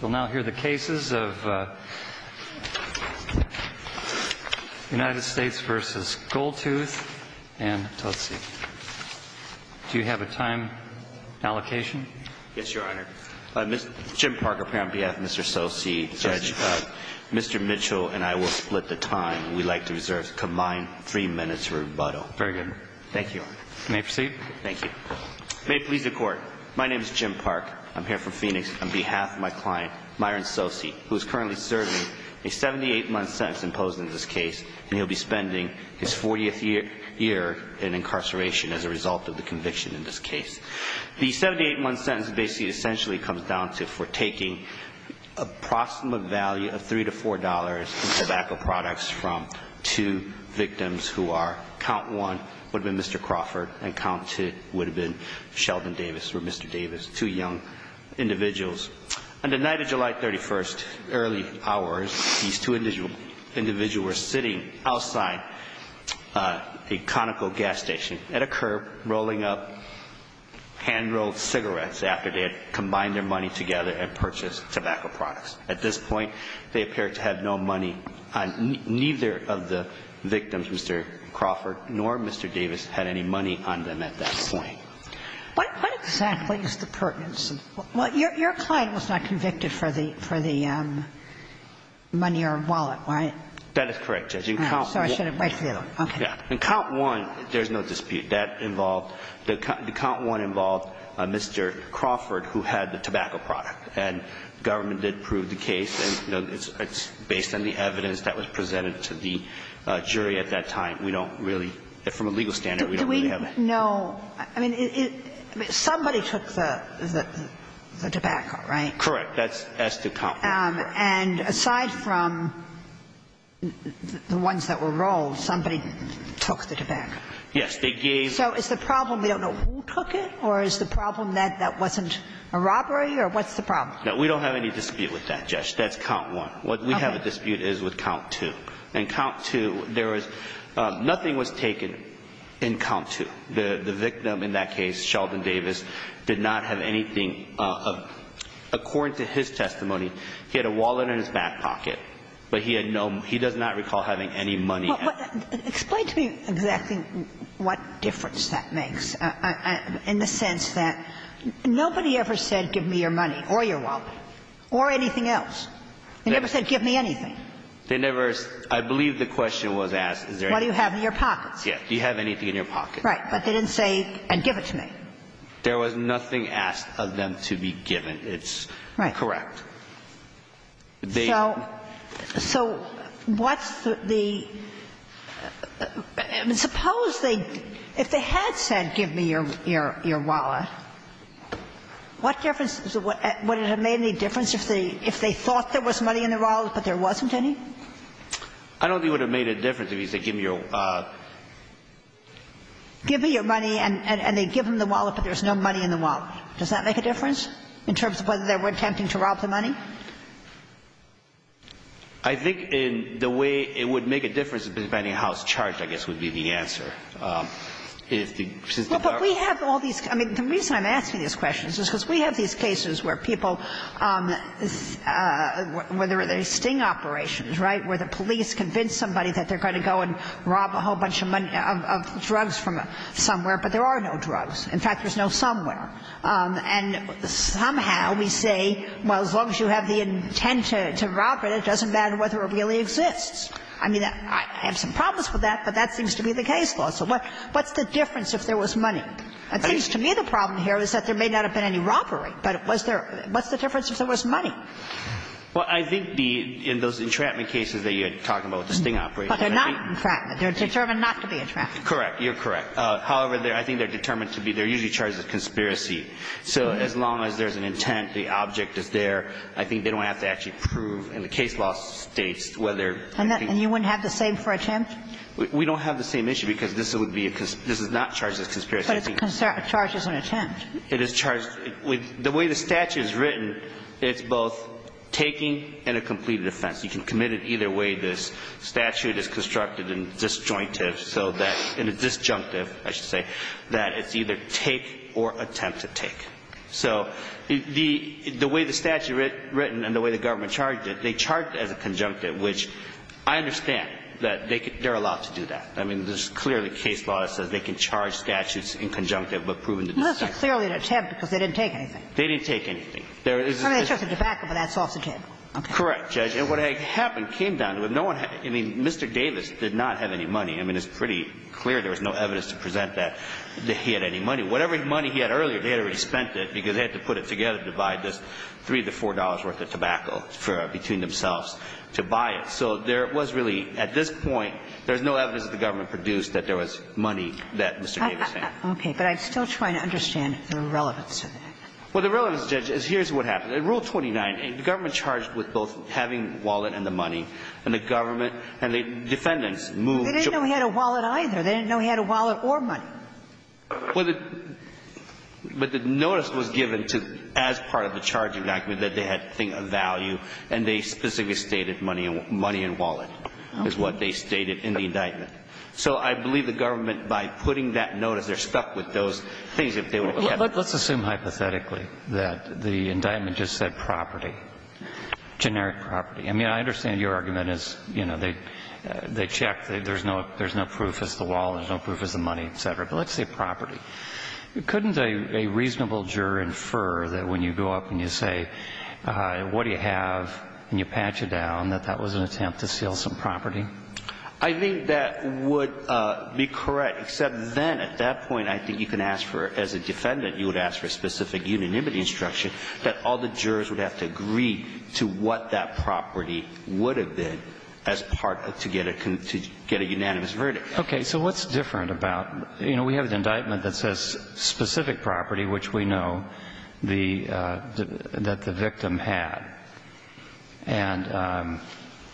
We'll now hear the cases of United States v. Goldtooth and Totsie. Do you have a time allocation? Yes, Your Honor. Mr. Jim Park here on behalf of Mr. Totsie. Mr. Mitchell and I will split the time. We'd like to reserve a combined three minutes rebuttal. Very good. Thank you. You may proceed. Thank you. May it please the Court, my name is Jim Park. I'm here for Phoenix on behalf of my client, Myron Totsie, who is currently serving a 78-month sentence imposed in this case, and he'll be spending his 40th year in incarceration as a result of the conviction in this case. The 78-month sentence basically essentially comes down to for taking a proximate value of $3 to $4 in tobacco products from two victims who are, count one, would have been Mr. Crawford, and count two would have been Sheldon Davis or Mr. Davis, two young individuals. On the night of July 31st, early hours, these two individuals were sitting outside a Conoco gas station at a curb rolling up hand-rolled cigarettes after they had combined their money together and purchased tobacco products. At this point, they appeared to have no money on neither of the victims, Mr. Crawford, nor Mr. Davis had any money on them at that point. What exactly is the pertinence? Well, your client was not convicted for the money or wallet, right? That is correct, Judge. Oh, so I should have waited for the other one. Okay. In count one, there's no dispute. That involved the count one involved Mr. Crawford, who had the tobacco product, and government did prove the case. And, you know, it's based on the evidence that was presented to the jury at that time. We don't really – from a legal standard, we don't really have that. Do we know – I mean, somebody took the tobacco, right? Correct. That's the count one. And aside from the ones that were rolled, somebody took the tobacco? Yes. So is the problem we don't know who took it, or is the problem that that wasn't a robbery, or what's the problem? No, we don't have any dispute with that, Judge. That's count one. Okay. What we have a dispute is with count two. In count two, there was – nothing was taken in count two. The victim in that case, Sheldon Davis, did not have anything. According to his testimony, he had a wallet in his back pocket, but he had no – he does not recall having any money. Explain to me exactly what difference that makes, in the sense that nobody ever said, give me your money or your wallet or anything else. They never said, give me anything. They never – I believe the question was asked, is there anything? What do you have in your pockets? Yes. Do you have anything in your pocket? Right. But they didn't say, give it to me. There was nothing asked of them to be given. It's correct. Right. They – So what's the – suppose they – if they had said, give me your wallet, what difference – would it have made any difference if they thought there was money in the wallet, but there wasn't any? I don't think it would have made a difference if he said, give me your wallet. Give me your money, and they give him the wallet, but there's no money in the wallet. Does that make a difference, in terms of whether they were attempting to rob the money? I think the way it would make a difference, depending on how it's charged, I guess, would be the answer. If the – Well, but we have all these – I mean, the reason I'm asking these questions is because we have these cases where people – where there are these sting operations, right, where the police convince somebody that they're going to go and rob a whole bunch of money – of drugs from somewhere, but there are no drugs. In fact, there's no somewhere. And somehow we say, well, as long as you have the intent to rob it, it doesn't matter whether it really exists. I mean, I have some problems with that, but that seems to be the case law. So what's the difference if there was money? It seems to me the problem here is that there may not have been any robbery, but was there – what's the difference if there was money? Well, I think the – in those entrapment cases that you're talking about, the sting operations, I think – But they're not entrapment. They're determined not to be entrapment. You're correct. However, I think they're determined to be – they're usually charged as conspiracy. So as long as there's an intent, the object is there, I think they don't have to actually prove in the case law states whether – And you wouldn't have the same for attempt? We don't have the same issue because this would be a – this is not charged as conspiracy. But it's charged as an attempt. It is charged – the way the statute is written, it's both taking and a completed offense. You can commit it either way. I think it's clear that this statute is constructed in disjointive so that – in a disjunctive, I should say, that it's either take or attempt to take. So the way the statute is written and the way the government charged it, they charged as a conjunctive, which I understand that they're allowed to do that. I mean, there's clearly case law that says they can charge statutes in conjunctive but prove in the disjunctive. Well, that's clearly an attempt because they didn't take anything. They didn't take anything. I mean, it's just a debacle, but that's off the table. Okay. Correct, Judge. And what had happened came down to if no one – I mean, Mr. Davis did not have any money. I mean, it's pretty clear there was no evidence to present that he had any money. Whatever money he had earlier, they had already spent it because they had to put it together to buy this $3 to $4 worth of tobacco between themselves to buy it. So there was really – at this point, there's no evidence that the government produced that there was money that Mr. Davis had. Okay. But I'm still trying to understand the relevance of that. Well, the relevance, Judge, is here's what happened. In Rule 29, the government charged with both having wallet and the money, and the government and the defendants moved – They didn't know he had a wallet either. They didn't know he had a wallet or money. Well, the – but the notice was given to, as part of the charging document, that they had a thing of value, and they specifically stated money and wallet is what they stated in the indictment. So I believe the government, by putting that notice, they're stuck with those things if they were to have it. Well, let's assume hypothetically that the indictment just said property, generic property. I mean, I understand your argument is, you know, they checked. There's no proof. It's the wallet. There's no proof. It's the money, et cetera. But let's say property. Couldn't a reasonable juror infer that when you go up and you say, what do you have, and you patch it down, that that was an attempt to steal some property? I think that would be correct, except then, at that point, I think you can ask for as a defendant, you would ask for specific unanimity instruction that all the jurors would have to agree to what that property would have been as part of – to get a unanimous verdict. Okay. So what's different about – you know, we have an indictment that says specific property, which we know the – that the victim had. And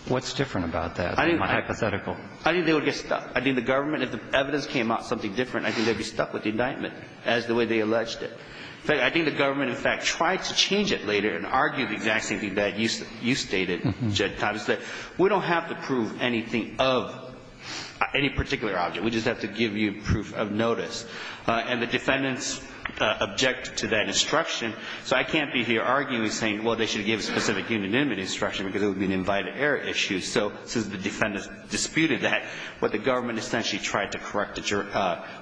what's different about that from a hypothetical? I think they would get stuck. I think the government, if the evidence came out something different, I think they would get stuck, the way they alleged it. In fact, I think the government, in fact, tried to change it later and argue the exact same thing that you stated, Judge Thomas, that we don't have to prove anything of any particular object. We just have to give you proof of notice. And the defendants object to that instruction. So I can't be here arguing, saying, well, they should give specific unanimity instruction because it would be an invited error issue. So since the defendants disputed that, what the government essentially tried to correct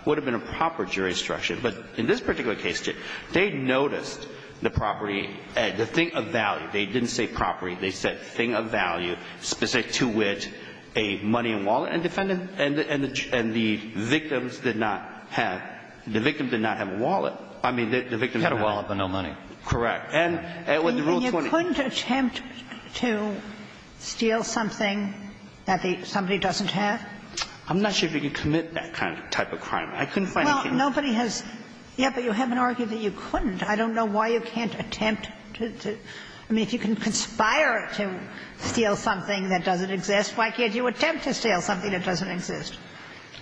would have been a proper jury instruction. But in this particular case, they noticed the property – the thing of value. They didn't say property. They said thing of value, specific to which a money and wallet. And defendant – and the victims did not have – the victims did not have a wallet. I mean, the victims did not have a wallet. They had a wallet, but no money. Correct. And with the Rule 20. And you couldn't attempt to steal something that somebody doesn't have? I'm not sure if you can commit that kind of type of crime. I couldn't find anything. Well, nobody has – yeah, but you haven't argued that you couldn't. I don't know why you can't attempt to – I mean, if you can conspire to steal something that doesn't exist, why can't you attempt to steal something that doesn't exist?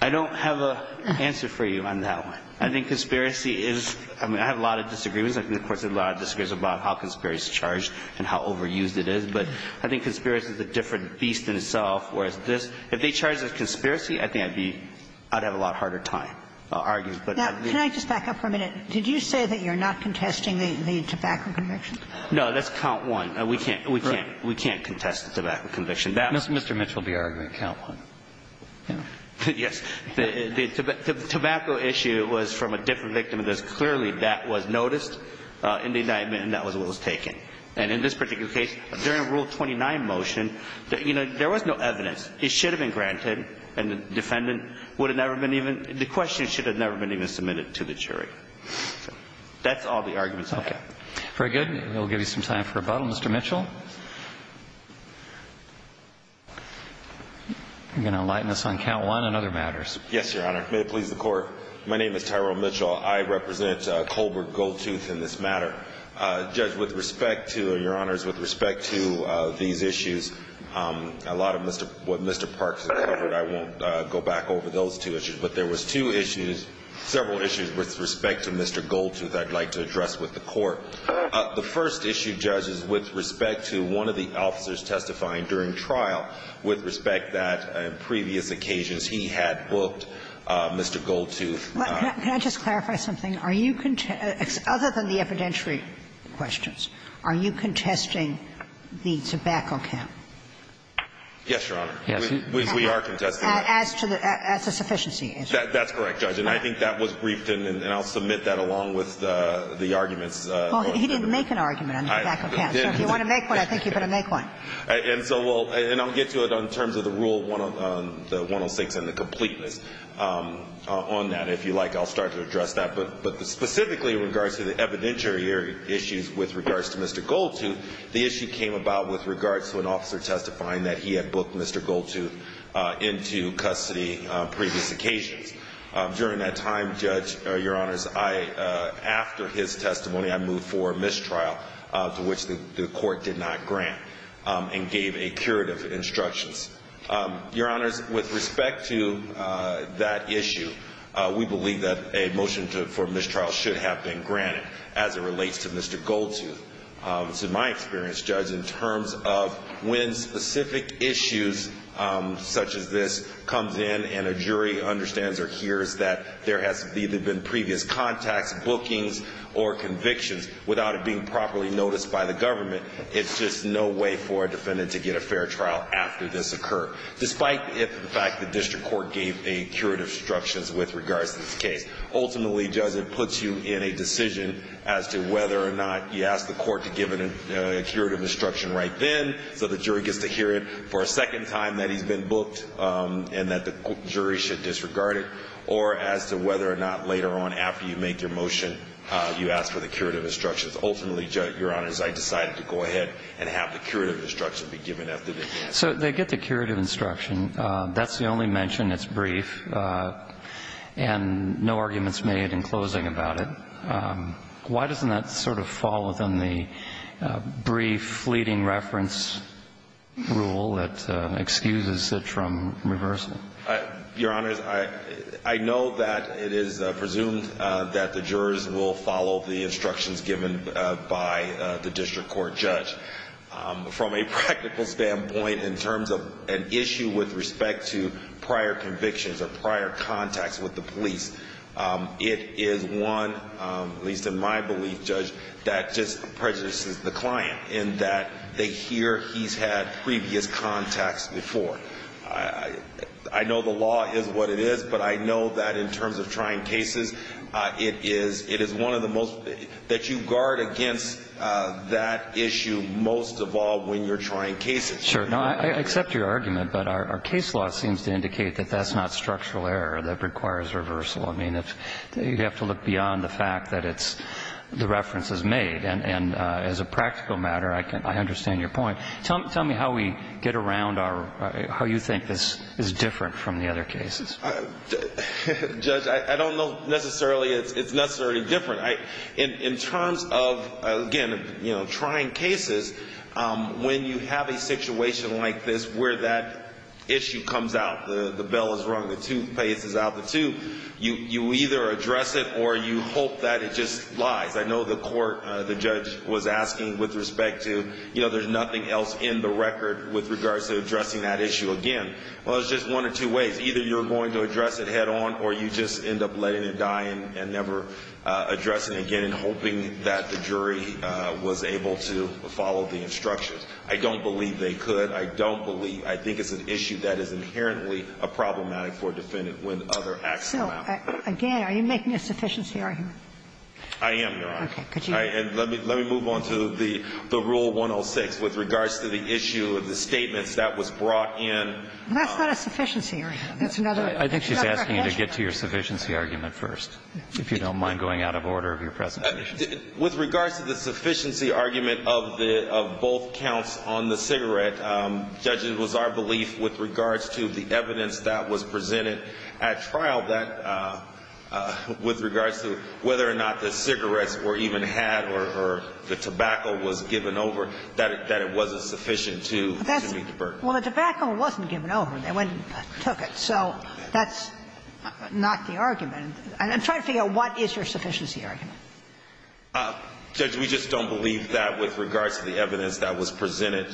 I don't have an answer for you on that one. I think conspiracy is – I mean, I have a lot of disagreements. I think the Court has a lot of disagreements about how conspiracy is charged and how overused it is. But I think conspiracy is a different beast in itself, whereas this – if they charged us conspiracy, I think I'd be – I'd have a lot harder time arguing. Now, can I just back up for a minute? Did you say that you're not contesting the tobacco conviction? No. That's count one. We can't – we can't contest the tobacco conviction. Mr. Mitchell will be arguing count one. Yes. The tobacco issue was from a different victim, because clearly that was noticed in the indictment and that was what was taken. And in this particular case, during Rule 29 motion, you know, there was no evidence. It should have been granted, and the defendant would have never been even – the question should have never been even submitted to the jury. That's all the arguments I have. Okay. Very good. We'll give you some time for rebuttal. Mr. Mitchell? You're going to enlighten us on count one and other matters. Yes, Your Honor. May it please the Court. My name is Tyrell Mitchell. I represent Colbert Goldtooth in this matter. Judge, with respect to – Your Honors, with respect to these issues, a lot of Mr. – what Mr. Parks has covered, I won't go back over those two issues. But there was two issues, several issues with respect to Mr. Goldtooth I'd like to address with the Court. The first issue, judges, with respect to one of the officers testifying during trial, with respect that on previous occasions he had booked Mr. Goldtooth. Can I just clarify something? Are you – other than the evidentiary questions, are you contesting the tobacco count? Yes, Your Honor. Yes. We are contesting it. As to the – as a sufficiency issue. That's correct, Judge. And I think that was briefed, and I'll submit that along with the arguments. Well, he didn't make an argument on the tobacco count. I didn't. So if you want to make one, I think you're going to make one. And so we'll – and I'll get to it in terms of the Rule 106 and the completeness on that. If you like, I'll start to address that. But specifically in regards to the evidentiary issues with regards to Mr. Goldtooth, the issue came about with regards to an officer testifying that he had booked Mr. Goldtooth into custody on previous occasions. During that time, Judge, Your Honors, I – after his testimony, I moved forward mistrial to which the Court did not grant and gave a curative instructions. Your Honors, with respect to that issue, we believe that a motion for mistrial should have been granted as it relates to Mr. Goldtooth. So my experience, Judge, in terms of when specific issues such as this comes in and a jury understands or hears that there has either been previous contacts, bookings, or convictions without it being properly noticed by the government, it's just no way for a defendant to get a fair trial after this occurred, despite the fact that the district court gave a curative instructions with regards to this case. Ultimately, Judge, it puts you in a decision as to whether or not you ask the court to give it a curative instruction right then so the jury gets to hear it for a second time that he's been booked and that the jury should disregard it, or as to whether or not later on after you make your motion, you ask for the curative instructions. Ultimately, Your Honors, I decided to go ahead and have the curative instruction be given after this. So they get the curative instruction. That's the only mention. It's brief and no arguments made in closing about it. Why doesn't that sort of fall within the brief fleeting reference rule that excuses it from reversal? Your Honors, I know that it is presumed that the jurors will follow the instructions given by the district court judge. From a practical standpoint, in terms of an issue with respect to prior convictions or prior contacts with the police, it is one, at least in my belief, Judge, that just prejudices the client in that they hear he's had previous contacts before. I know the law is what it is, but I know that in terms of trying cases, it is one of the most that you guard against that issue most of all when you're trying cases. Sure. I accept your argument, but our case law seems to indicate that that's not structural error. That requires reversal. I mean, you have to look beyond the fact that the reference is made. And as a practical matter, I understand your point. Tell me how we get around how you think this is different from the other cases. Judge, I don't know necessarily it's necessarily different. In terms of, again, you know, trying cases, when you have a situation like this where that issue comes out, the bell is rung, the toothpaste is out the tube, you either address it or you hope that it just lies. I know the court, the judge, was asking with respect to, you know, there's nothing else in the record with regards to addressing that issue again. Well, there's just one or two ways. Either you're going to address it head on or you just end up letting it die and never address it again and hoping that the jury was able to follow the instructions. I don't believe they could. I don't believe – I think it's an issue that is inherently problematic for a defendant when other acts come out. So, again, are you making a sufficiency argument? I am, Your Honor. Okay. And let me move on to the Rule 106 with regards to the issue of the statements that was brought in. That's not a sufficiency argument. That's another question. I think she's asking you to get to your sufficiency argument first, if you don't mind going out of order of your presentation. With regards to the sufficiency argument of the – of both counts on the cigarette, Judge, it was our belief with regards to the evidence that was presented at trial that it wasn't sufficient to meet the burden. Well, the tobacco wasn't given over. They went and took it. So that's not the argument. And I'm trying to figure out what is your sufficiency argument. Judge, we just don't believe that with regards to the evidence that was presented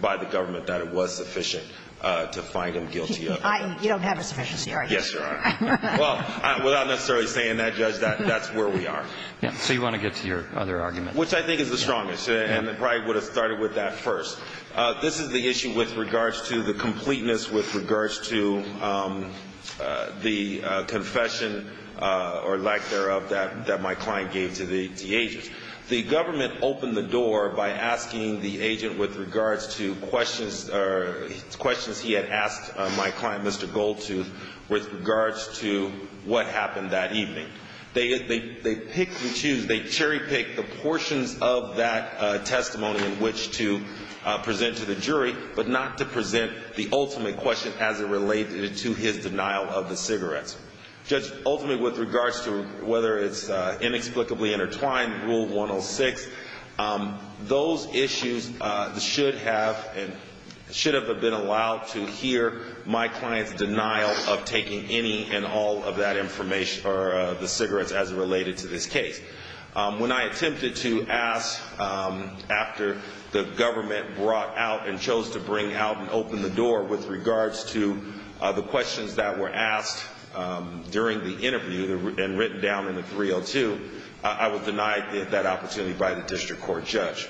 by the government that it was sufficient to find them guilty of it. You don't have a sufficiency argument. Yes, Your Honor. Well, without necessarily saying that, Judge, that's where we are. So you want to get to your other argument. Which I think is the strongest, and I probably would have started with that first. This is the issue with regards to the completeness with regards to the confession or lack thereof that my client gave to the agent. The government opened the door by asking the agent with regards to questions he had asked my client, Mr. Goldtooth, with regards to what happened that evening. They pick and choose. They cherry-pick the portions of that testimony in which to present to the jury, but not to present the ultimate question as it related to his denial of the cigarettes. Judge, ultimately with regards to whether it's inexplicably intertwined, Rule 106, those issues should have been allowed to hear my client's denial of taking any and all of that information or the cigarettes as it related to this case. When I attempted to ask after the government brought out and chose to bring out and open the door with regards to the questions that were asked during the interview and written down in the 302, I was denied that opportunity by the district court judge.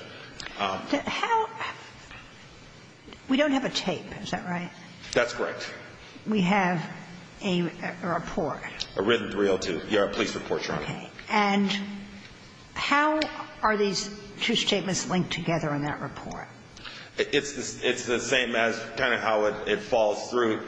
We don't have a tape. Is that right? That's correct. We have a report. A written 302. Yeah, a police report, Your Honor. Okay. And how are these two statements linked together in that report? It's the same as kind of how it falls through.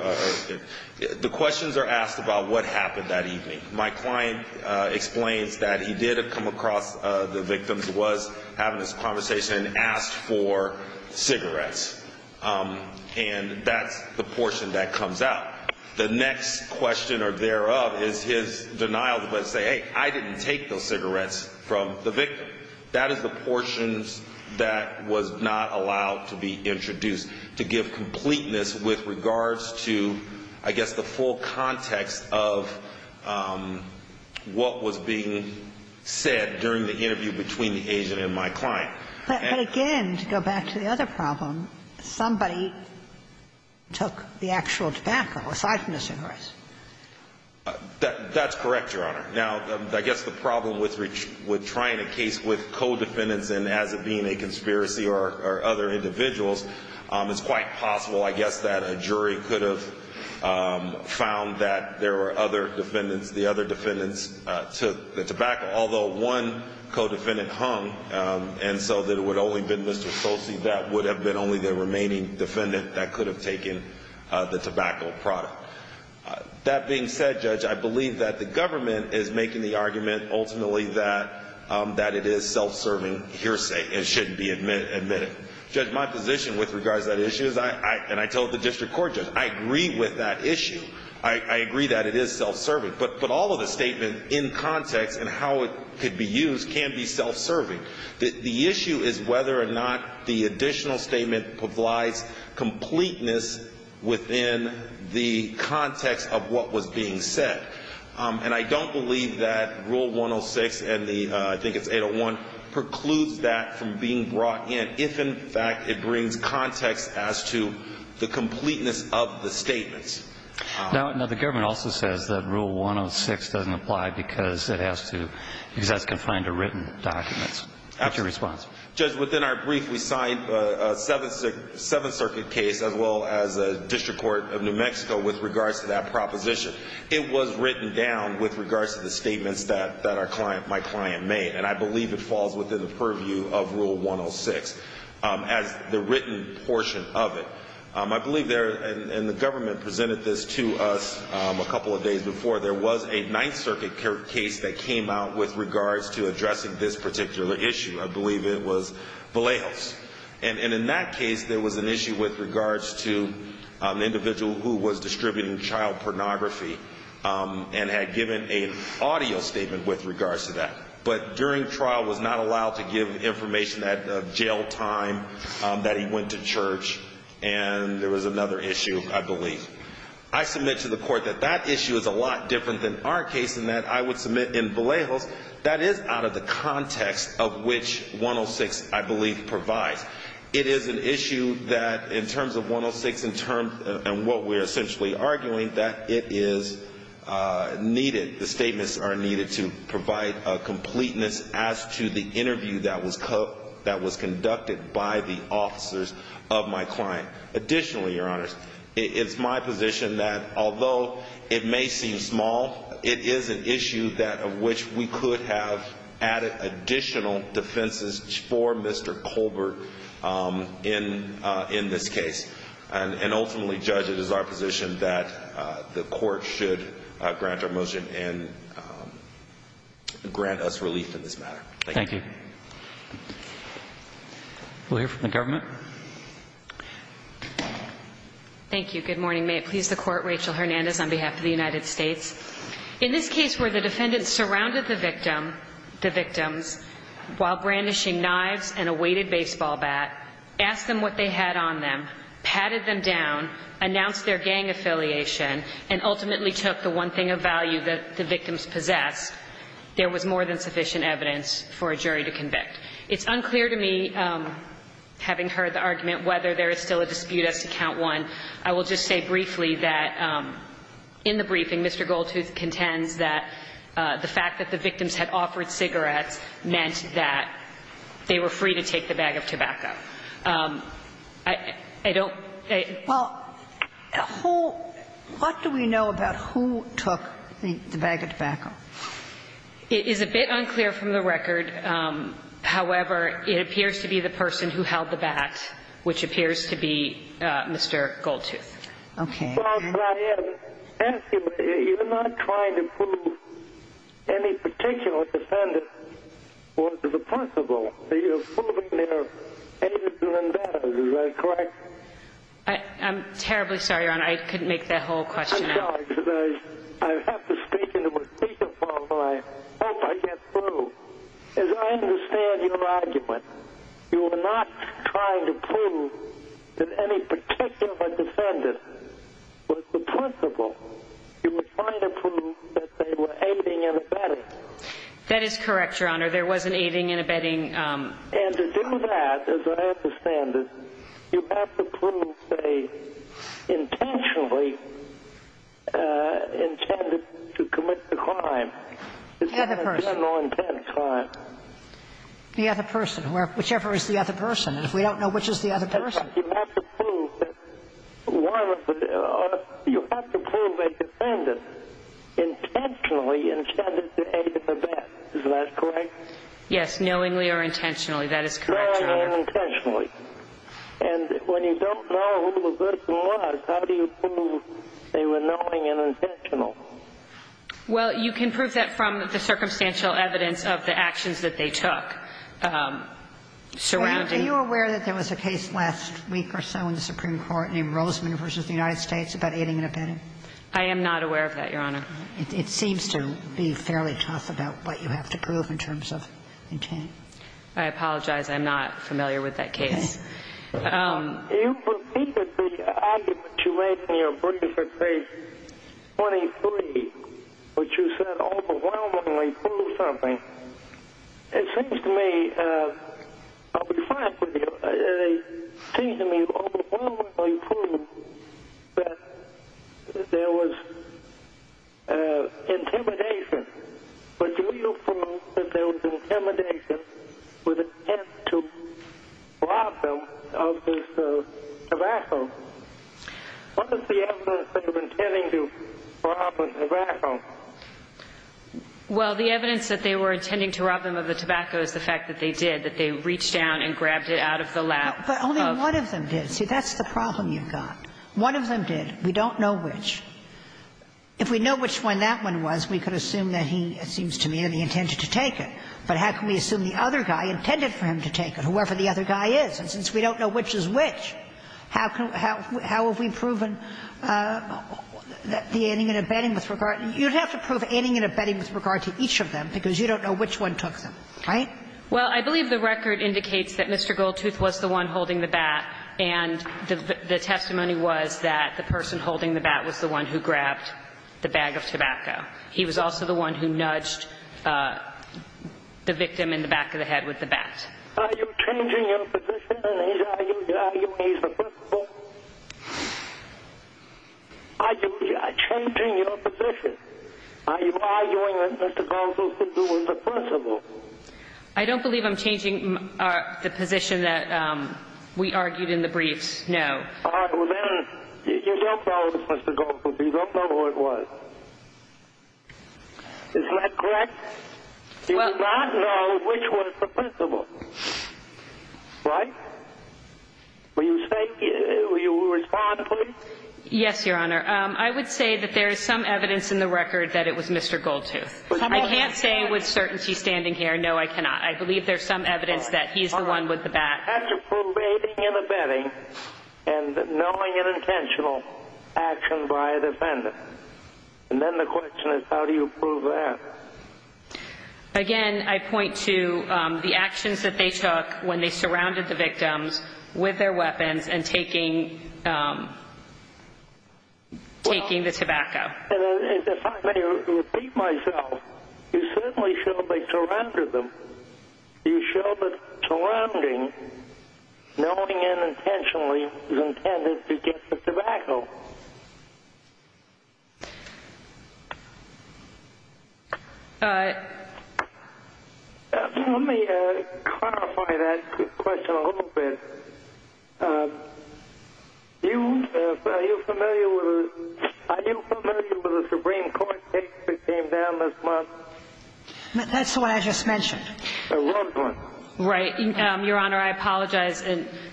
The questions are asked about what happened that evening. My client explains that he did come across the victim was having this conversation and asked for cigarettes. And that's the portion that comes out. The next question or thereof is his denial to say, hey, I didn't take those cigarettes from the victim. That is the portions that was not allowed to be introduced to give completeness with regards to, I guess, the full context of what was being said during the interview between the agent and my client. But again, to go back to the other problem, somebody took the actual tobacco aside from the cigarettes. That's correct, Your Honor. Now, I guess the problem with trying a case with co-defendants and as it being a conspiracy or other individuals, it's quite possible, I guess, that a jury could have found that there were other defendants, the other defendants took the tobacco. Although one co-defendant hung, and so that it would only have been Mr. Solcy, that would have been only the remaining defendant that could have taken the tobacco product. That being said, Judge, I believe that the government is making the argument ultimately that it is self-serving hearsay and shouldn't be admitted. Judge, my position with regards to that issue is, and I told the district court, Judge, I agree with that issue. I agree that it is self-serving. But all of the statements in context and how it could be used can be self-serving. The issue is whether or not the additional statement provides completeness within the context of what was being said. And I don't believe that Rule 106 and the, I think it's 801, precludes that from being brought in if, in fact, it brings context as to the completeness of the statements. Now, the government also says that Rule 106 doesn't apply because it has to, because that's confined to written documents. What's your response? Judge, within our brief, we signed a Seventh Circuit case as well as a district court of New Mexico with regards to that proposition. It was written down with regards to the statements that my client made, and I believe it falls within the purview of Rule 106 as the written portion of it. I believe there, and the government presented this to us a couple of days before, there was a Ninth Circuit case that came out with regards to addressing this particular issue. I believe it was Vallejos. And in that case, there was an issue with regards to an individual who was distributing child pornography and had given an audio statement with regards to that. But during trial was not allowed to give information at jail time, that he went to church, and there was another issue, I believe. I submit to the court that that issue is a lot different than our case in that I would submit in Vallejos that is out of the context of which 106, I believe, provides. It is an issue that, in terms of 106 and what we're essentially arguing, that it is needed. The statements are needed to provide a completeness as to the interview that was conducted by the officers of my client. Additionally, Your Honors, it's my position that although it may seem small, it is an issue of which we could have added additional defenses for Mr. Colbert in this case and ultimately judge it as our position that the court should grant our motion and grant us relief in this matter. Thank you. Thank you. We'll hear from the government. Thank you. Good morning. May it please the Court, Rachel Hernandez on behalf of the United States. In this case where the defendant surrounded the victim, the victims, while brandishing knives and a weighted baseball bat, asked them what they had on them, patted them down, announced their gang affiliation, and ultimately took the one thing of value that the victims possessed, there was more than sufficient evidence for a jury to convict. It's unclear to me, having heard the argument, whether there is still a dispute as to Count 1. I will just say briefly that in the briefing, Mr. Goldtooth contends that the fact that the victims had offered cigarettes meant that they were free to take the bag of tobacco. I don't think they – Well, who – what do we know about who took the bag of tobacco? It is a bit unclear from the record. However, it appears to be the person who held the bat, which appears to be Mr. Goldtooth. Okay. You're not trying to prove any particular defendant was responsible. You're proving their aims and endeavors. Is that correct? I'm terribly sorry, Your Honor. I couldn't make that whole question out. I'm sorry. I have to speak into a speakerphone and I hope I get through. As I understand your argument, you were not trying to prove that any particular defendant was the principal. You were trying to prove that they were aiding and abetting. That is correct, Your Honor. There was an aiding and abetting. And to do that, as I understand it, you have to prove they intentionally intended to commit the crime. The other person. It's not a general intent crime. The other person. Whichever is the other person. And if we don't know which is the other person. You have to prove a defendant intentionally intended to aid and abet. Is that correct? Knowingly or intentionally. That is correct, Your Honor. Knowingly or intentionally. And when you don't know who the person was, how do you prove they were knowing and intentional? Well, you can prove that from the circumstantial evidence of the actions that they took surrounding. Are you aware that there was a case last week or so in the Supreme Court named Rosman v. United States about aiding and abetting? I am not aware of that, Your Honor. It seems to be fairly tough about what you have to prove in terms of intent. I apologize. I'm not familiar with that case. Do you believe that the argument you made in your brief at page 23, which you said overwhelmingly proved something, it seems to me, I'll be frank with you, it seems to me overwhelmingly proved that there was intimidation. But do we know for most that there was intimidation with intent to rob them of this tobacco? What is the evidence that they were intending to rob them of the tobacco? Well, the evidence that they were intending to rob them of the tobacco is the fact that they did, that they reached down and grabbed it out of the lap of. But only one of them did. See, that's the problem you've got. One of them did. We don't know which. If we know which one that one was, we could assume that he, it seems to me, that he intended to take it. But how can we assume the other guy intended for him to take it, whoever the other guy is? And since we don't know which is which, how have we proven the aiding and abetting with regard to each of them, because you don't know which one took them, right? Well, I believe the record indicates that Mr. Goldtooth was the one holding the bat, and the testimony was that the person holding the bat was the one who grabbed the bag of tobacco. He was also the one who nudged the victim in the back of the head with the bat. Are you changing your position? Are you arguing he's the principal? Are you changing your position? Are you arguing that Mr. Goldtooth was the principal? I don't believe I'm changing the position that we argued in the briefs, no. All right. Well, then you don't know Mr. Goldtooth. You don't know who it was. Is that correct? You do not know which was the principal, right? Will you respond, please? Yes, Your Honor. I would say that there is some evidence in the record that it was Mr. Goldtooth. I can't say with certainty standing here, no, I cannot. I believe there's some evidence that he's the one with the bat. All right. You have to prove aiding and abetting and knowing an intentional action by a defendant. And then the question is how do you prove that? Again, I point to the actions that they took when they surrounded the victims with their weapons and taking the tobacco. And if I may repeat myself, you certainly showed they surrounded them. You showed that surrounding, knowing unintentionally, was intended to get the tobacco. All right. Let me clarify that question a little bit. Are you familiar with the Supreme Court case that came down this month? That's the one I just mentioned. The Rose one. Right. Your Honor, I apologize.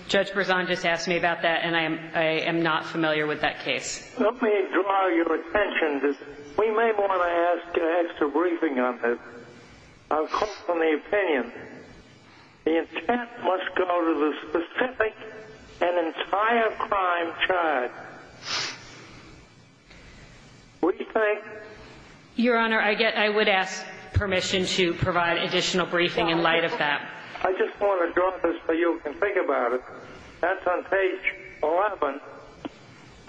Judge Berzon just asked me about that, and I am not familiar with that case. Let me draw your attention. We may want to ask an extra briefing on this. I'll quote from the opinion. The intent must go to the specific and entire crime charge. What do you think? Your Honor, I would ask permission to provide additional briefing in light of that. I just want to draw this so you can think about it. That's on page 11.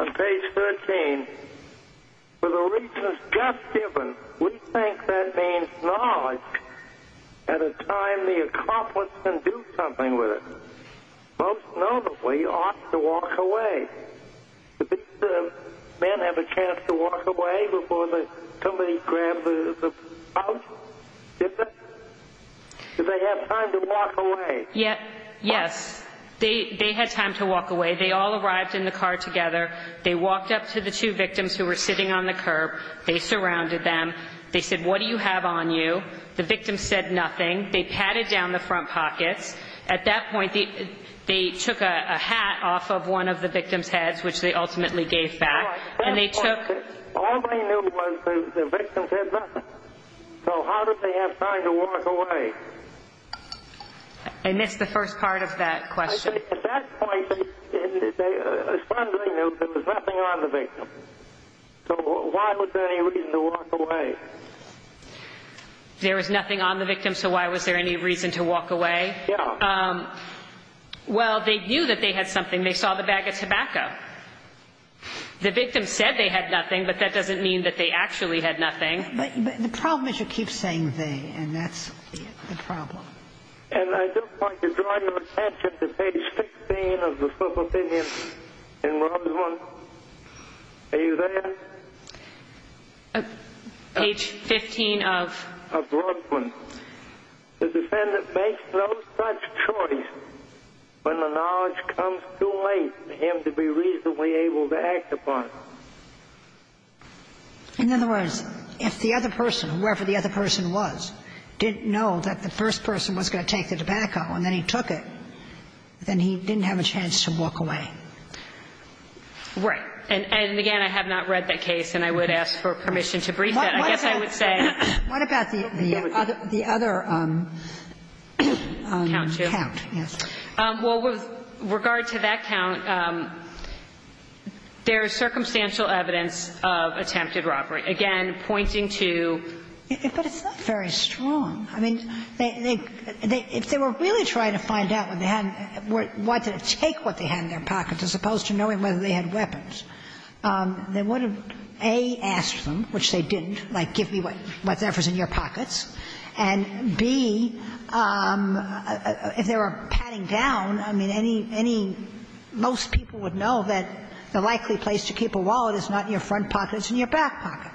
On page 13, for the reasons just given, we think that means knowledge at a time the accomplice can do something with it. Most notably, ought to walk away. Did the men have a chance to walk away before somebody grabbed the house? Did they have time to walk away? Yes. They had time to walk away. They all arrived in the car together. They walked up to the two victims who were sitting on the curb. They surrounded them. They said, what do you have on you? The victim said nothing. They patted down the front pockets. At that point, they took a hat off of one of the victim's heads, which they ultimately gave back. All they knew was the victim said nothing. So how did they have time to walk away? I missed the first part of that question. At that point, as far as I knew, there was nothing on the victim. So why was there any reason to walk away? There was nothing on the victim, so why was there any reason to walk away? Yeah. Well, they knew that they had something. They saw the bag of tobacco. The victim said they had nothing, but that doesn't mean that they actually had nothing. But the problem is you keep saying they, and that's the problem. And I just want to draw your attention to page 15 of the full opinion in Roslyn. Are you there? Page 15 of? Of Roslyn. The defendant makes no such choice when the knowledge comes too late for him to be reasonably able to act upon. In other words, if the other person, whoever the other person was, didn't know that the first person was going to take the tobacco and then he took it, then he didn't have a chance to walk away. Right. And, again, I have not read that case, and I would ask for permission to brief it. I guess I would say. What about the other count? Well, with regard to that count, there is circumstantial evidence of attempted robbery, again, pointing to. But it's not very strong. I mean, if they were really trying to find out what they had, wanted to take what they had in their pockets as opposed to knowing whether they had weapons, they would have, A, asked them, which they didn't, like, give me whatever's in your pockets, and, B, if they were patting down, I mean, any most people would know that the likely place to keep a wallet is not in your front pocket, it's in your back pocket.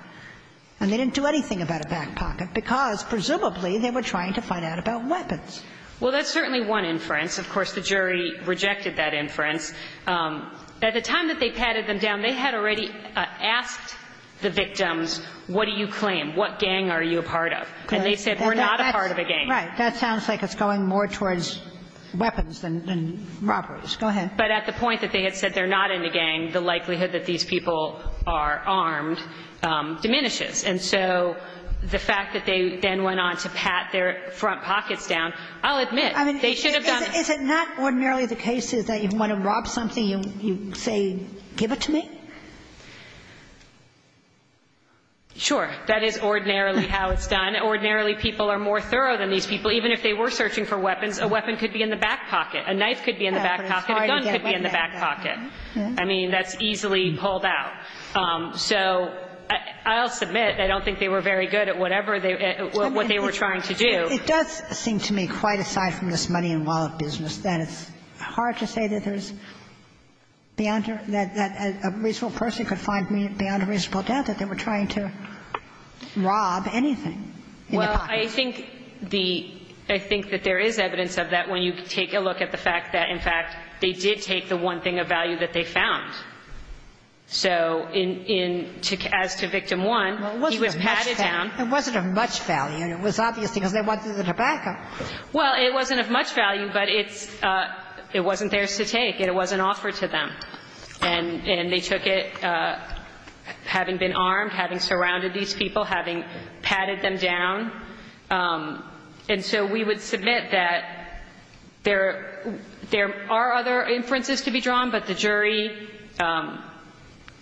And they didn't do anything about a back pocket because, presumably, they were trying to find out about weapons. Well, that's certainly one inference. Of course, the jury rejected that inference. At the time that they patted them down, they had already asked the victims, what do you claim? What gang are you a part of? And they said, we're not a part of a gang. Right. That sounds like it's going more towards weapons than robberies. Go ahead. But at the point that they had said they're not in the gang, the likelihood that these people are armed diminishes. And so the fact that they then went on to pat their front pockets down, I'll admit, they should have done it. I mean, is it not ordinarily the case that you want to rob something, you say, give it to me? Sure. That is ordinarily how it's done. Ordinarily, people are more thorough than these people. Even if they were searching for weapons, a weapon could be in the back pocket. A knife could be in the back pocket. A gun could be in the back pocket. I mean, that's easily pulled out. So I'll submit I don't think they were very good at whatever they were trying to do. It does seem to me, quite aside from this money and wallet business, that it's hard to say that there's beyond or that a reasonable person could find beyond a reasonable doubt that they were trying to rob anything in the pocket. Well, I think the – I think that there is evidence of that when you take a look at the fact that, in fact, they did take the one thing of value that they found. So in – as to Victim 1, he was patted down. Well, it wasn't of much value. It wasn't of much value. It was obvious because they wanted the tobacco. Well, it wasn't of much value, but it's – it wasn't theirs to take. It wasn't offered to them. And they took it having been armed, having surrounded these people, having patted them down. And so we would submit that there are other inferences to be drawn, but the jury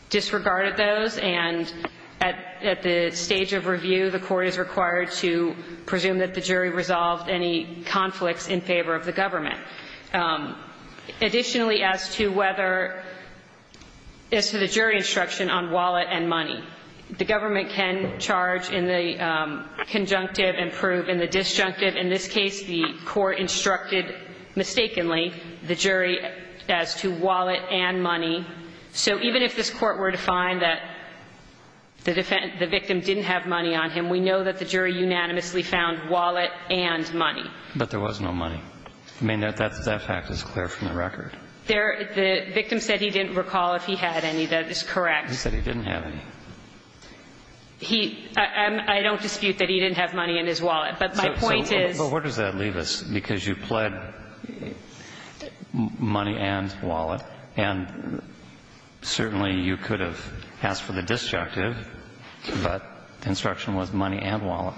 disregarded those. And at the stage of review, the court is required to presume that the jury resolved any conflicts in favor of the government. Additionally, as to whether – as to the jury instruction on wallet and money, the government can charge in the conjunctive and prove in the disjunctive. In this case, the court instructed mistakenly the jury as to wallet and money. So even if this Court were to find that the victim didn't have money on him, we know that the jury unanimously found wallet and money. But there was no money. I mean, that fact is clear from the record. There – the victim said he didn't recall if he had any. That is correct. He said he didn't have any. He – I don't dispute that he didn't have money in his wallet. But my point is – So where does that leave us? Because you pled money and wallet. And certainly you could have asked for the disjunctive, but the instruction was money and wallet.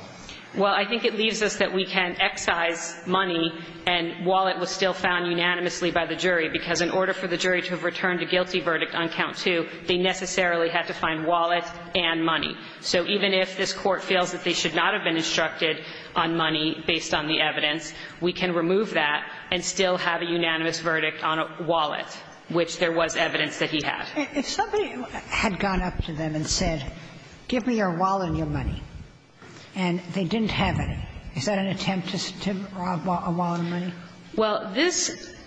Well, I think it leaves us that we can excise money and wallet was still found unanimously by the jury, because in order for the jury to have returned a guilty verdict on count two, they necessarily had to find wallet and money. So even if this Court feels that they should not have been instructed on money based on the evidence, we can remove that and still have a unanimous verdict on a wallet, which there was evidence that he had. If somebody had gone up to them and said, give me your wallet and your money, and they didn't have any, is that an attempt to rob a wallet and money? Well, this –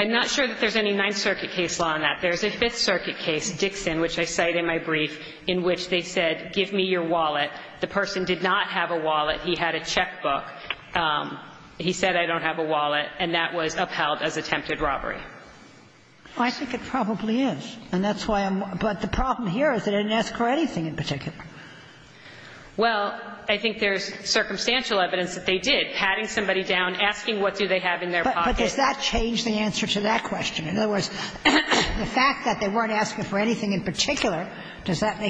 I'm not sure that there's any Ninth Circuit case law on that. There's a Fifth Circuit case, Dixon, which I cite in my brief, in which they said, give me your wallet. The person did not have a wallet. He had a checkbook. He said, I don't have a wallet, and that was upheld as attempted robbery. I think it probably is, and that's why I'm – but the problem here is they didn't ask for anything in particular. Well, I think there's circumstantial evidence that they did, patting somebody down, asking what do they have in their pocket. But does that change the answer to that question? In other words, the fact that they weren't asking for anything in particular, does that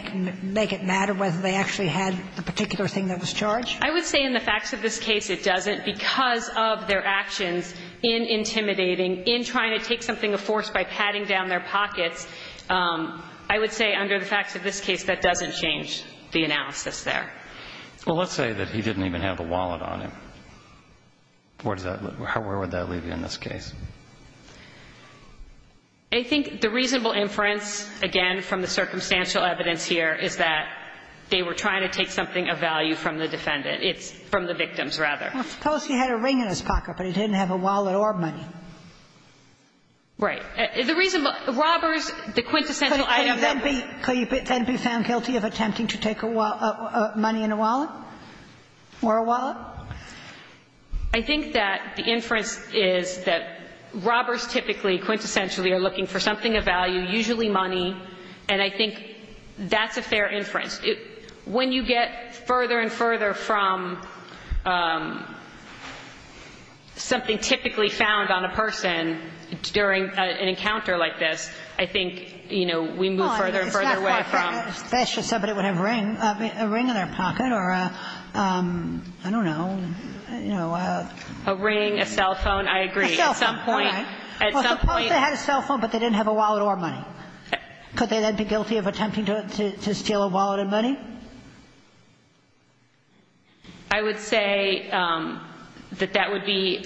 make it matter whether they actually had the particular thing that was charged? I would say in the facts of this case, it doesn't, because of their actions in intimidating, in trying to take something of force by patting down their pockets, I would say under the facts of this case, that doesn't change the analysis there. Well, let's say that he didn't even have a wallet on him. Where does that – where would that leave you in this case? I think the reasonable inference, again, from the circumstantial evidence here, is that they were trying to take something of value from the defendant. It's from the victims, rather. Well, suppose he had a ring in his pocket, but he didn't have a wallet or money. Right. The reason – robbers, the quintessential item that would be – Could you then be found guilty of attempting to take money in a wallet, or a wallet? I think that the inference is that robbers typically, quintessentially, are looking for something of value, usually money, and I think that's a fair inference. When you get further and further from something typically found on a person during an encounter like this, I think, you know, we move further and further away from Oh, I mean, it's not farfetched. That's just somebody would have a ring in their pocket or a, I don't know, you know, a A ring, a cell phone, I agree. A cell phone. At some point, at some point Well, suppose they had a cell phone, but they didn't have a wallet or money. Could they then be guilty of attempting to steal a wallet and money? I would say that that would be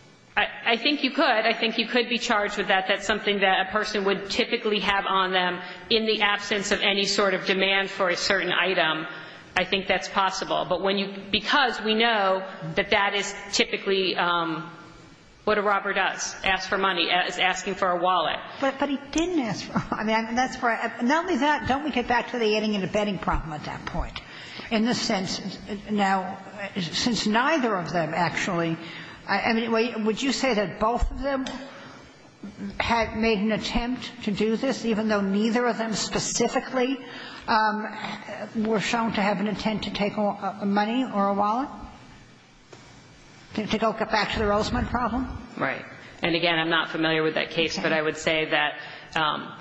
– I think you could. I think you could be charged with that. That's something that a person would typically have on them in the absence of any sort of demand for a certain item. I think that's possible. But when you – because we know that that is typically what a robber does, ask for money, is asking for a wallet. But he didn't ask for – I mean, that's where I – not only that, don't we get back to the adding and abetting problem at that point, in the sense, now, since neither of them actually – I mean, would you say that both of them had made an attempt to do this, even though neither of them specifically were shown to have an intent to take a money or a wallet, to go get back to the Rosamond problem? Right. And, again, I'm not familiar with that case. But I would say that –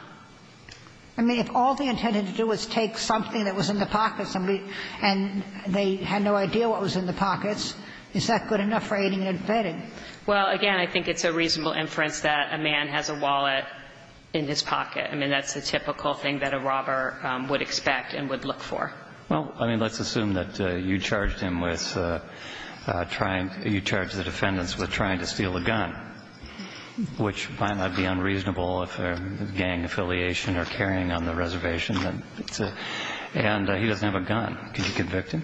I mean, if all they intended to do was take something that was in the pocket of somebody and they had no idea what was in the pockets, is that good enough for adding and abetting? Well, again, I think it's a reasonable inference that a man has a wallet in his pocket. I mean, that's the typical thing that a robber would expect and would look for. Well, I mean, let's assume that you charged him with trying – you charged the defendants with trying to steal a gun, which might not be unreasonable if they're gang affiliation or carrying on the reservation. And he doesn't have a gun. Could you convict him?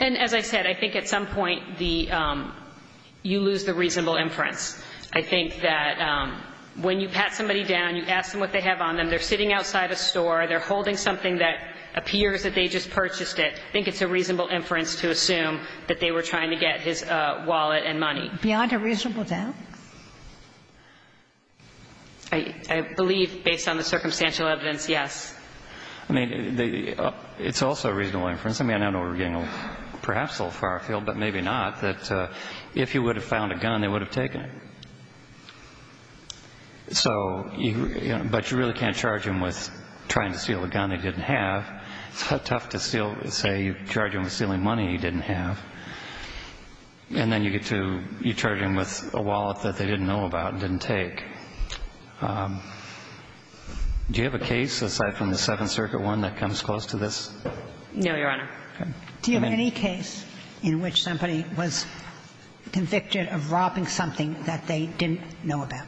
And, as I said, I think at some point the – you lose the reasonable inference. I think that when you pat somebody down, you ask them what they have on them. They're sitting outside a store. They're holding something that appears that they just purchased it. I think it's a reasonable inference to assume that they were trying to get his wallet and money. Beyond a reasonable doubt? I believe, based on the circumstantial evidence, yes. I mean, it's also a reasonable inference. I mean, I don't know if we're getting perhaps a little far afield, but maybe not, that if he would have found a gun, they would have taken it. So you – but you really can't charge him with trying to steal a gun he didn't have. It's tough to steal – say you charge him with stealing money he didn't have. And then you get to – you charge him with a wallet that they didn't know about and didn't take. Do you have a case, aside from the Seventh Circuit one, that comes close to this? No, Your Honor. Do you have any case in which somebody was convicted of robbing something that they didn't know about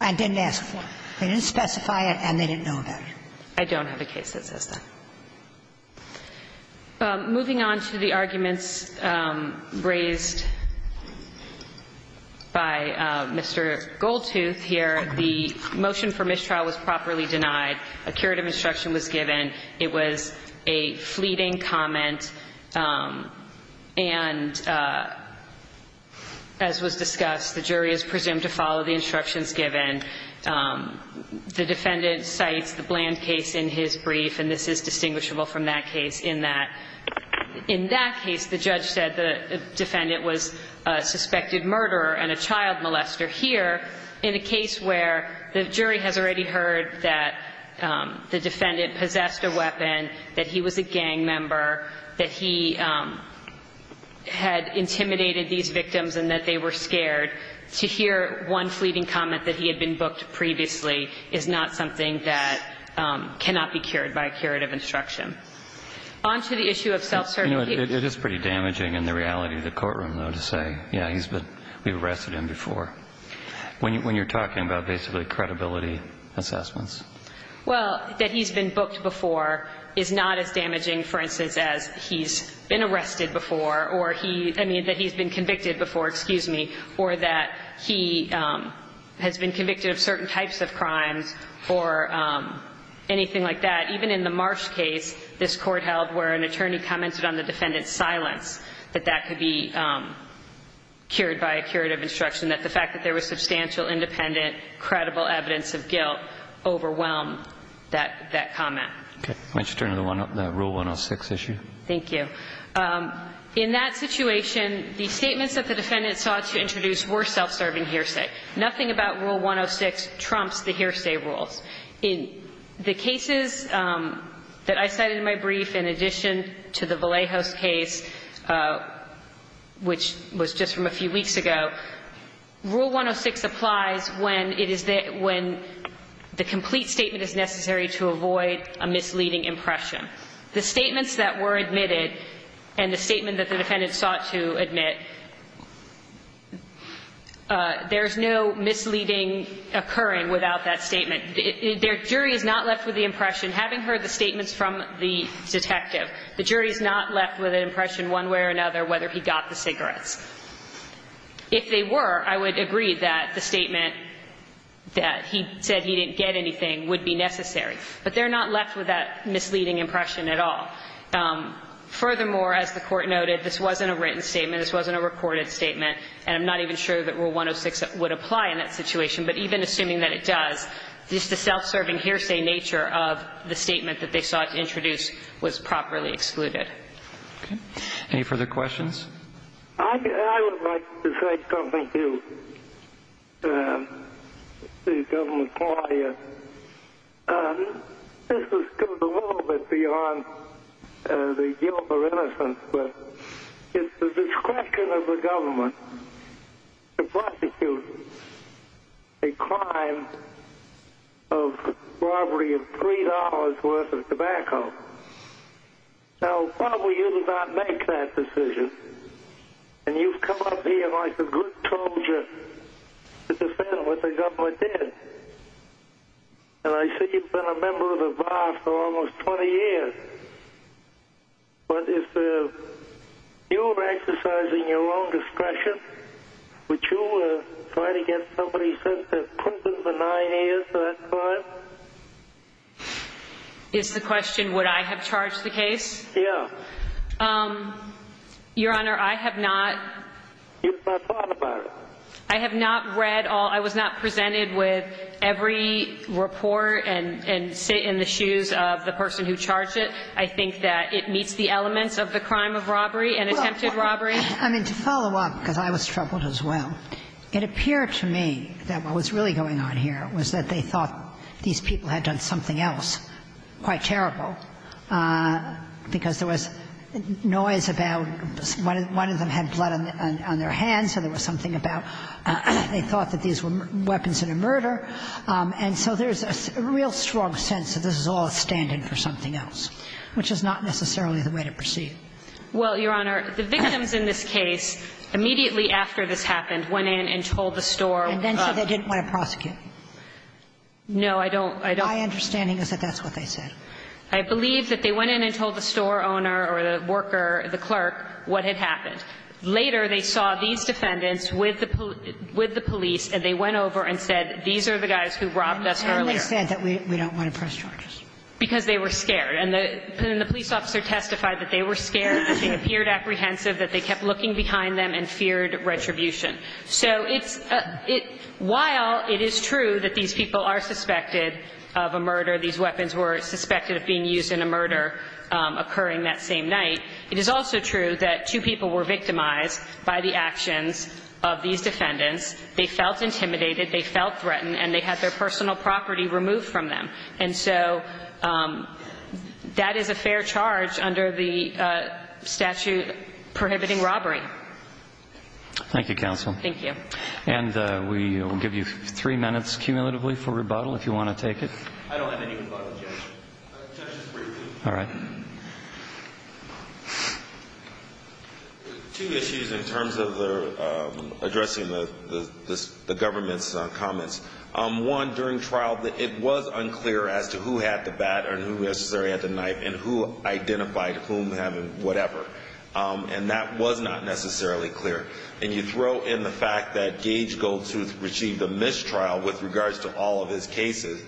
and didn't ask for? They didn't specify it, and they didn't know about it. I don't have a case that says that. Moving on to the arguments raised by Mr. Goldtooth here, the motion for mistrial was properly denied. A curative instruction was given. It was a fleeting comment. And as was discussed, the jury is presumed to follow the instructions given. The defendant cites the Bland case in his brief, and this is distinguishable from that case in that – in that case, the judge said the defendant was a suspected murderer and a child molester. Here, in a case where the jury has already heard that the defendant possessed a weapon, that he was a gang member, that he had intimidated these victims and that they were scared, to hear one fleeting comment that he had been booked previously is not something that cannot be cured by a curative instruction. On to the issue of self-certainty. You know, it is pretty damaging in the reality of the courtroom, though, to say, yeah, he's been – we've arrested him before, when you're talking about basically credibility assessments. Well, that he's been booked before is not as damaging, for instance, as he's been arrested before or he – I mean, that he's been convicted before, excuse me, or that he has been convicted of certain types of crimes or anything like that. Even in the Marsh case, this court held where an attorney commented on the defendant's silence, that that could be cured by a curative instruction, that the fact that there was substantial, independent, credible evidence of guilt overwhelmed that comment. Okay. Why don't you turn to the one – the Rule 106 issue? Thank you. In that situation, the statements that the defendant sought to introduce were self-serving hearsay. Nothing about Rule 106 trumps the hearsay rules. In the cases that I cited in my brief, in addition to the Vallejo's case, which was just from a few weeks ago, Rule 106 applies when it is – when the complete statement is necessary to avoid a misleading impression. The statements that were admitted and the statement that the defendant sought to admit, there's no misleading occurring without that statement. Their jury is not left with the impression, having heard the statements from the detective, the jury is not left with an impression one way or another whether he got the cigarettes. If they were, I would agree that the statement that he said he didn't get anything would be necessary. But they're not left with that misleading impression at all. Furthermore, as the Court noted, this wasn't a written statement. This wasn't a recorded statement. And I'm not even sure that Rule 106 would apply in that situation. But even assuming that it does, just the self-serving hearsay nature of the statement that they sought to introduce was properly excluded. Okay. Any further questions? I would like to say something to the government court here. This goes a little bit beyond the guilt or innocence, but it's the discretion of the government to prosecute a crime of robbery of $3 worth of tobacco. Now, probably you did not make that decision. And you've come up here like a good soldier to defend what the government did. And I see you've been a member of the VA for almost 20 years. But if you were exercising your own discretion, would you try to get somebody sent to prison for nine years at that time? Is the question would I have charged the case? Yes. Your Honor, I have not. You have not thought about it. I have not read all. I was not presented with every report and sit in the shoes of the person who charged it. I think that it meets the elements of the crime of robbery and attempted robbery. Well, I mean, to follow up, because I was troubled as well, it appeared to me that what was really going on here was that they thought these people had done something else quite terrible, because there was noise about one of them had blood on their hands, so there was something about they thought that these were weapons in a murder. And so there's a real strong sense that this is all a stand-in for something else, which is not necessarily the way to proceed. Well, Your Honor, the victims in this case immediately after this happened went in and told the store. And then said they didn't want to prosecute. No, I don't. My understanding is that that's what they said. I believe that they went in and told the store owner or the worker, the clerk, what had happened. Later, they saw these defendants with the police and they went over and said, these are the guys who robbed us earlier. And they said that we don't want to press charges. Because they were scared. And then the police officer testified that they were scared, that they appeared apprehensive, that they kept looking behind them and feared retribution. So while it is true that these people are suspected of a murder, these weapons were suspected of being used in a murder occurring that same night, it is also true that two people were victimized by the actions of these defendants. They felt intimidated. They felt threatened. And they had their personal property removed from them. And so that is a fair charge under the statute prohibiting robbery. Thank you, counsel. Thank you. And we will give you three minutes cumulatively for rebuttal if you want to take it. I don't have any rebuttal, Judge. Judge, just briefly. All right. Two issues in terms of addressing the government's comments. One, during trial, it was unclear as to who had the bat and who necessarily had the knife and who identified whom having whatever. And that was not necessarily clear. And you throw in the fact that Gage Goldsruth received a mistrial with regards to all of his cases.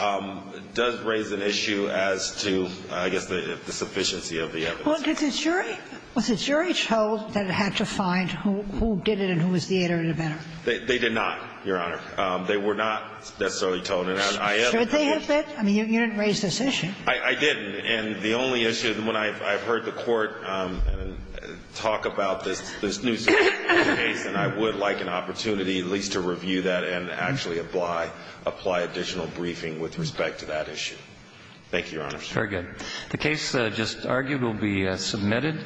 It does raise an issue as to, I guess, the sufficiency of the evidence. Well, did the jury – was the jury told that it had to find who did it and who was the aider and abettor? They did not, Your Honor. They were not necessarily told. And I am. Should they have been? I mean, you didn't raise this issue. I didn't. And the only issue, when I've heard the court talk about this new case, and I would like an opportunity at least to review that and actually apply additional briefing with respect to that issue. Thank you, Your Honor. Very good. The case just argued will be submitted.